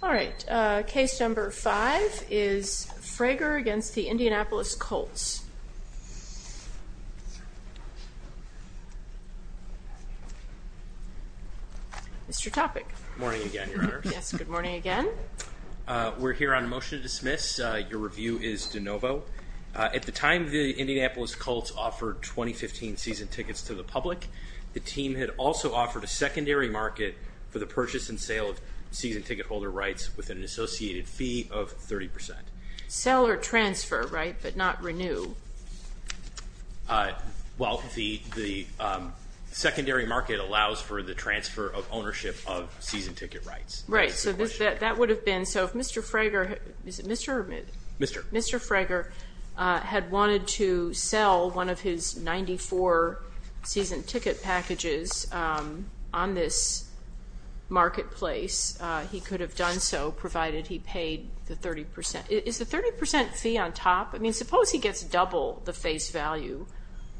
All right, case number five is Frager against the Indianapolis Colts. Mr. Topic. Good morning again, Your Honor. Yes, good morning again. We're here on a motion to dismiss. Your review is de novo. At the time the Indianapolis Colts offered 2015 season tickets to the public, the team had also offered a secondary market for the purchase and sale of season ticket holder rights with an associated fee of 30 percent. Sell or transfer, right, but not renew? Well, the secondary market allows for the transfer of ownership of season ticket rights. Right. So that would have been, so if Mr. Frager, is it Mr. or Ms.? Mr. Mr. Frager had wanted to sell one of his 94 season ticket packages on this marketplace, he could have done so, provided he paid the 30 percent. Is the 30 percent fee on top? I mean, suppose he gets double the face value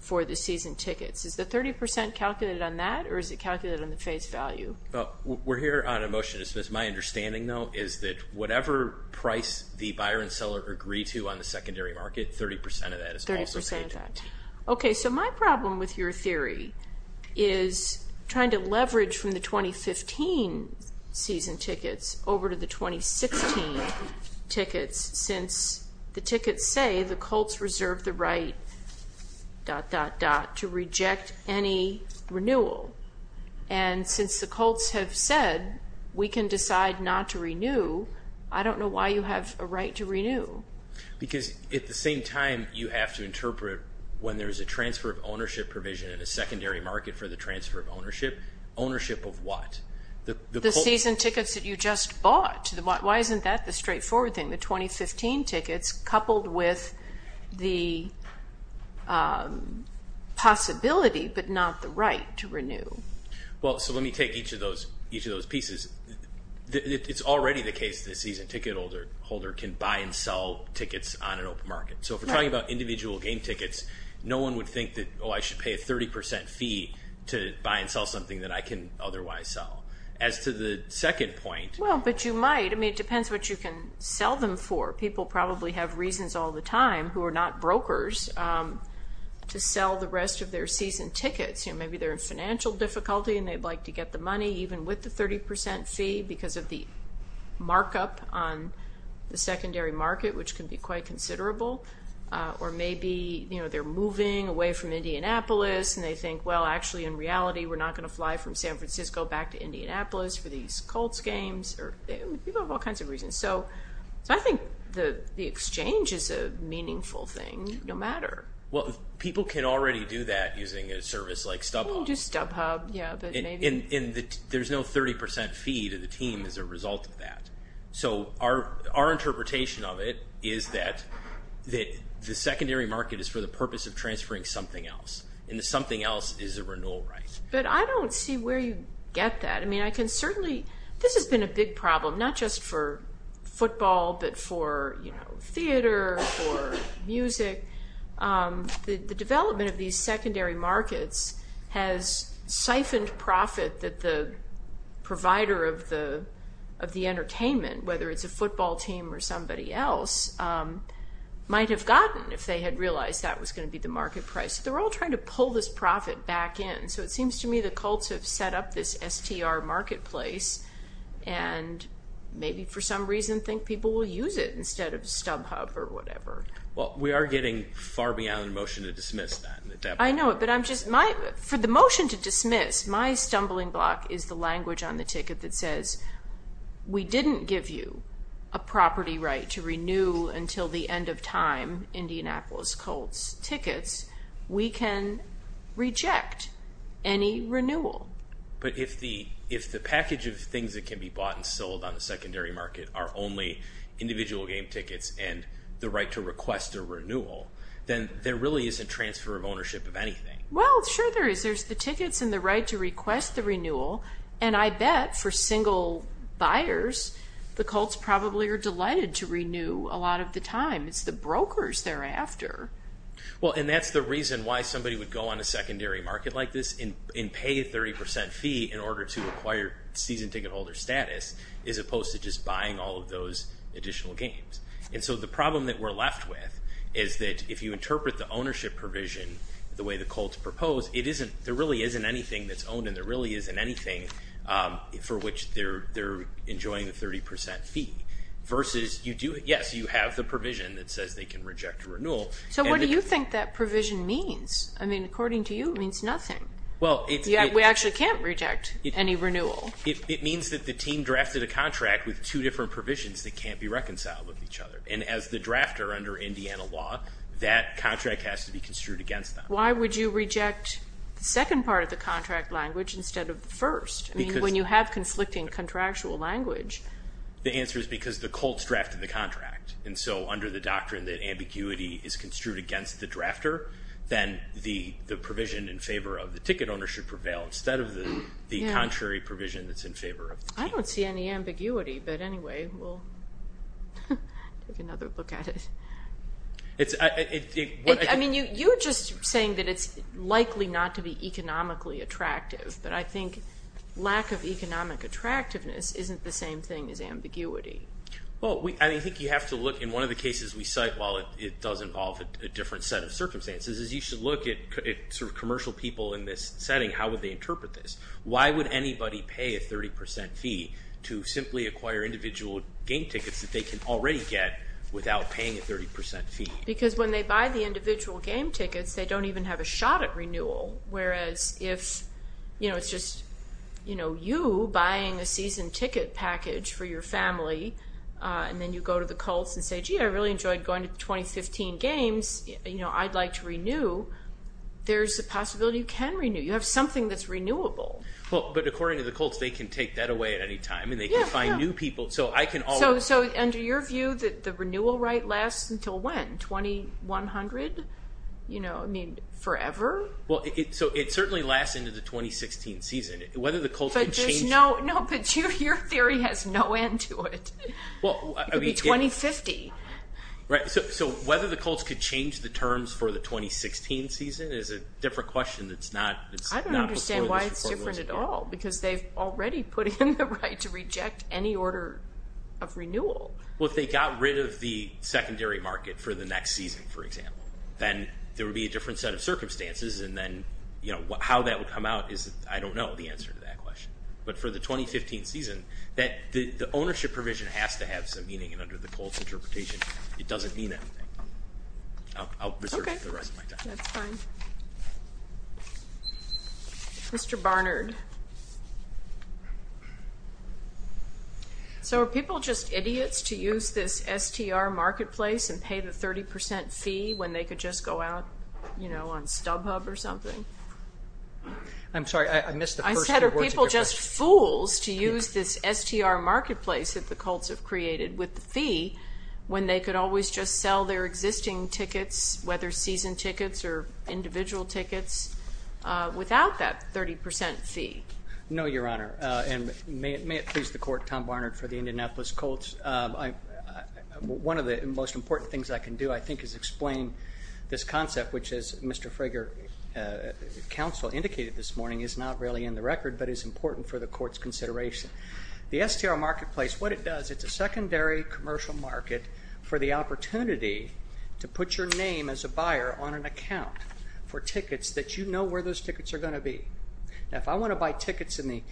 for the season tickets. Is the 30 percent calculated on that, or is it calculated on the face value? We're here on a motion to dismiss. My understanding, though, is that whatever price the buyer and seller agree to on the secondary market, 30 percent of that is also paid. I appreciate that. Okay, so my problem with your theory is trying to leverage from the 2015 season tickets over to the 2016 tickets, since the tickets say the Colts reserve the right dot dot dot to reject any renewal. And since the Colts have said we can decide not to renew, I don't know why you have a right to renew. Because at the same time, you have to interpret when there's a transfer of ownership provision in a secondary market for the transfer of ownership, ownership of what? The season tickets that you just bought. Why isn't that the straightforward thing, the 2015 tickets, coupled with the possibility, but not the right to renew? Well, so let me take each of those pieces. It's already the case that a season ticket holder can buy and sell tickets on an open market. So if we're talking about individual game tickets, no one would think that, oh, I should pay a 30 percent fee to buy and sell something that I can otherwise sell. As to the second point. Well, but you might. I mean, it depends what you can sell them for. People probably have reasons all the time, who are not brokers, to sell the rest of their season tickets. You know, maybe they're in financial difficulty and they'd like to get the money even with the 30 percent fee because of the markup on the secondary market, which can be quite considerable. Or maybe, you know, they're moving away from Indianapolis and they think, well, actually in reality, we're not going to fly from San Francisco back to Indianapolis for these Colts games. People have all kinds of reasons. So I think the exchange is a meaningful thing, no matter. Well, people can already do that using a service like StubHub. You can do StubHub, yeah. And there's no 30 percent fee to the team as a result of that. So our interpretation of it is that the secondary market is for the purpose of transferring something else. And the something else is a renewal right. But I don't see where you get that. I mean, I can certainly. This has been a big problem, not just for football, but for theater, for music. The development of these secondary markets has siphoned profit that the provider of the entertainment, whether it's a football team or somebody else, might have gotten if they had realized that was going to be the market price. They're all trying to pull this profit back in. So it seems to me the Colts have set up this STR marketplace and maybe for some reason think people will use it instead of StubHub or whatever. Well, we are getting far beyond a motion to dismiss that. I know it, but I'm just... For the motion to dismiss, my stumbling block is the language on the ticket that says, we didn't give you a property right to renew until the end of time Indianapolis Colts tickets. We can reject any renewal. But if the package of things that can be bought and sold on the secondary market are only individual game tickets and the right to request a renewal, then there really isn't transfer of ownership of anything. Well, sure there is. There's the tickets and the right to request the renewal. And I bet for single buyers, the Colts probably are delighted to renew a lot of the time. It's the brokers thereafter. Well, and that's the reason why somebody would go on a secondary market like this and pay a 30% fee in order to acquire season ticket holder status, as opposed to just buying all of those additional games. And so the problem that we're left with is that if you interpret the ownership provision the way the Colts propose, there really isn't anything that's owned and there really isn't anything for which they're enjoying the 30% fee, versus, yes, you have the provision that says they can reject a renewal. So what do you think that provision means? I mean, according to you, it means nothing. We actually can't reject any renewal. It means that the team drafted a contract with two different provisions that can't be reconciled with each other. And as the drafter under Indiana law, that contract has to be construed against them. Why would you reject the second part of the contract language instead of the first? I mean, when you have conflicting contractual language. The answer is because the Colts drafted the contract. And so under the doctrine that ambiguity is construed against the drafter, then the provision in favor of the ticket owner should prevail instead of the contrary provision that's in favor of the team. I don't see any ambiguity, but anyway, we'll take another look at it. I mean, you're just saying that it's likely not to be economically attractive, but I think lack of economic attractiveness isn't the same thing as ambiguity. Well, I think you have to look in one of the cases we cite, while it does involve a different set of circumstances, is you should look at commercial people in this setting. How would they interpret this? Why would anybody pay a 30% fee to simply acquire individual game tickets that they can already get without paying a 30% fee? Because when they buy the individual game tickets, they don't even have a shot at renewal. Whereas if it's just you buying a season ticket package for your family, and then you go to the Colts and say, gee, I really enjoyed going to the 2015 games, I'd like to renew, there's a possibility you can renew. You have something that's renewable. But according to the Colts, they can take that away at any time, and they can find new people. So I can always- So under your view, the renewal right lasts until when? 2100? I mean, forever? So it certainly lasts into the 2016 season. Whether the Colts can change- No, but your theory has no end to it. It could be 2050. So whether the Colts could change the terms for the 2016 season is a different question that's not- I don't understand why it's different at all, because they've already put in the right to reject any order of renewal. Well, if they got rid of the secondary market for the next season, for example, then there would be a different set of circumstances, and then how that would come out is, I don't know the answer to that question. But for the 2015 season, the ownership provision has to have some meaning, and under the Colts interpretation, it doesn't mean anything. I'll reserve the rest of my time. Mr. Barnard. So are people just idiots to use this STR marketplace and pay the 30% fee when they could just go out on StubHub or something? I'm sorry. I missed the first few words. Are people just fools to use this STR marketplace that the Colts have created with the fee when they could always just sell their existing tickets, whether season tickets or individual tickets, without that 30% fee? No, Your Honor, and may it please the Court, Tom Barnard for the Indianapolis Colts. One of the most important things I can do, I think, is explain this concept, which as Mr. Frager, counsel, indicated this morning is not really in the record, but is important for the Court's consideration. The STR marketplace, what it does, it's a secondary commercial market for the opportunity to put your name as a buyer on an account for tickets that you know where those tickets are going to be. Now, if I want to buy tickets and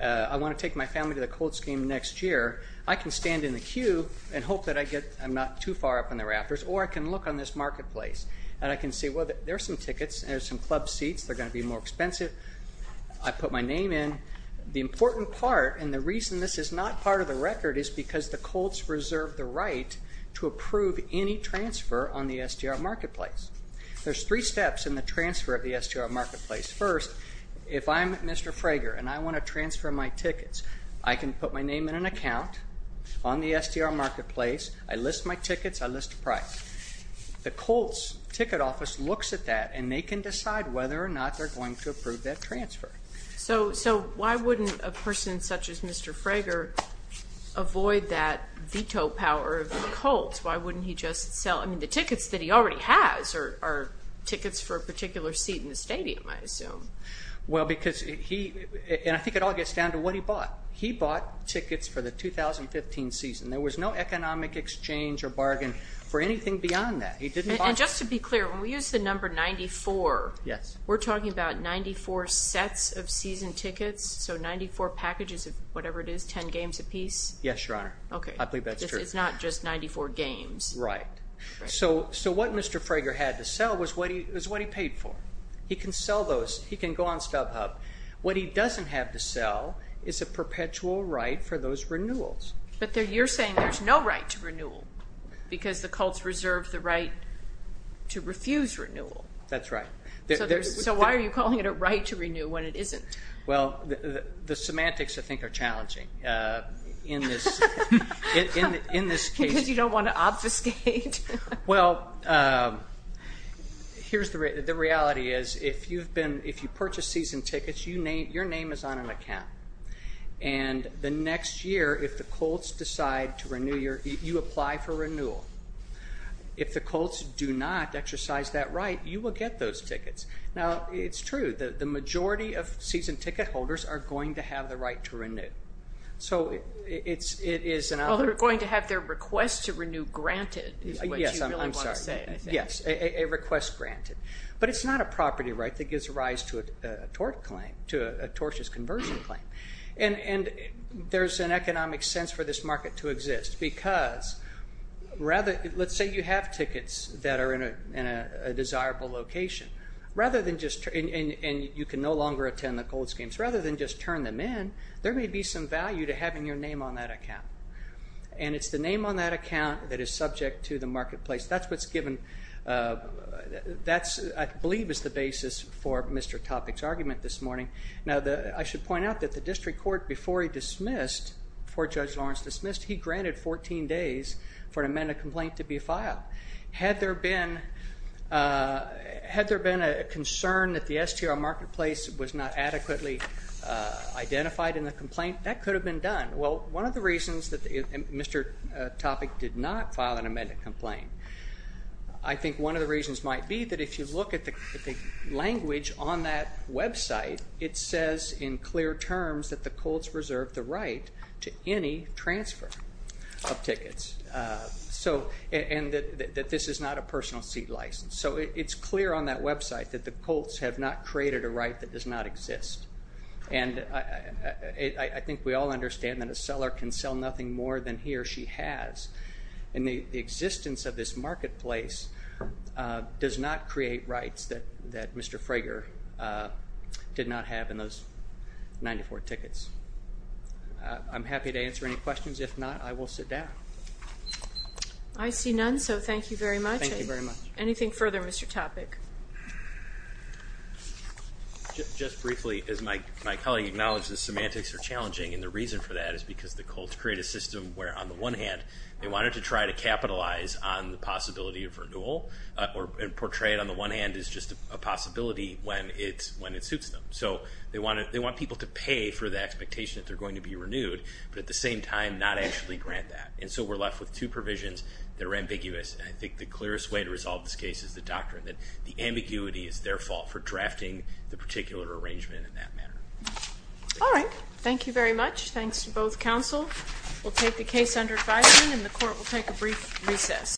I want to take my family to the Colts game next year, I can stand in the queue and hope that I'm not too far up in the rafters, or I can look on this marketplace, and I can see, well, there's some tickets, there's some club seats, they're going to be more expensive. I put my name in. The important part, and the reason this is not part of the record, is because the Colts reserve the right to approve any transfer on the STR marketplace. There's three steps in the transfer of the STR marketplace. First, if I'm Mr. Frager and I want to transfer my tickets, I can put my name in an account on the STR marketplace, I list my tickets, I list a price. The Colts ticket office looks at that and they can decide whether or not they're going to approve that transfer. So why wouldn't a person such as Mr. Frager avoid that veto power of the Colts? Why wouldn't he just sell, I mean, the tickets that he already has are tickets for a particular seat in the stadium, I assume. Well because he, and I think it all gets down to what he bought. He bought tickets for the 2015 season. There was no economic exchange or bargain for anything beyond that. He didn't buy- And just to be clear, when we use the number 94, we're talking about 94 sets of season tickets? So 94 packages of whatever it is, 10 games apiece? Yes, Your Honor. Okay. I believe that's true. It's not just 94 games. Right. So what Mr. Frager had to sell was what he paid for. He can sell those, he can go on StubHub. What he doesn't have to sell is a perpetual right for those renewals. But you're saying there's no right to renewal because the Colts reserved the right to refuse renewal. That's right. So why are you calling it a right to renew when it isn't? Well the semantics, I think, are challenging in this case. Because you don't want to obfuscate? Well, the reality is if you purchase season tickets, your name is on an account. And the next year, if the Colts decide to renew, you apply for renewal. If the Colts do not exercise that right, you will get those tickets. Now it's true. The majority of season ticket holders are going to have the right to renew. So it is an- Well they're going to have their request to renew granted is what you really want to say. Yes, I'm sorry. Yes, a request granted. But it's not a property right that gives rise to a tort claim, to a tortious conversion claim. And there's an economic sense for this market to exist because, let's say you have tickets that are in a desirable location, and you can no longer attend the Colts games, rather than just turn them in, there may be some value to having your name on that account. And it's the name on that account that is subject to the marketplace. That's what's given- That's, I believe, is the basis for Mr. Topic's argument this morning. Now I should point out that the district court, before he dismissed, before Judge Lawrence dismissed, he granted 14 days for an amended complaint to be filed. Had there been a concern that the STR marketplace was not adequately identified in the complaint, that could have been done. Well, one of the reasons that Mr. Topic did not file an amended complaint, I think one of the reasons might be that if you look at the language on that website, it says in clear terms that the Colts reserve the right to any transfer of tickets. So, and that this is not a personal seat license. So it's clear on that website that the Colts have not created a right that does not exist. And I think we all understand that a seller can sell nothing more than he or she has, and the existence of this marketplace does not create rights that Mr. Frager did not have in those 94 tickets. I'm happy to answer any questions, if not, I will sit down. I see none, so thank you very much. Anything further, Mr. Topic? Just briefly, as my colleague acknowledged, the semantics are challenging, and the reason for that is because the Colts created a system where on the one hand, they wanted to try to capitalize on the possibility of renewal, and portray it on the one hand as just a possibility when it suits them. So they want people to pay for the expectation that they're going to be renewed, but at the same time, not actually grant that. And so we're left with two provisions that are ambiguous, and I think the clearest way to resolve this case is the doctrine that the ambiguity is their fault for drafting the particular arrangement in that manner. All right, thank you very much. Thanks to both counsel. We'll take the case under advising, and the court will take a brief recess.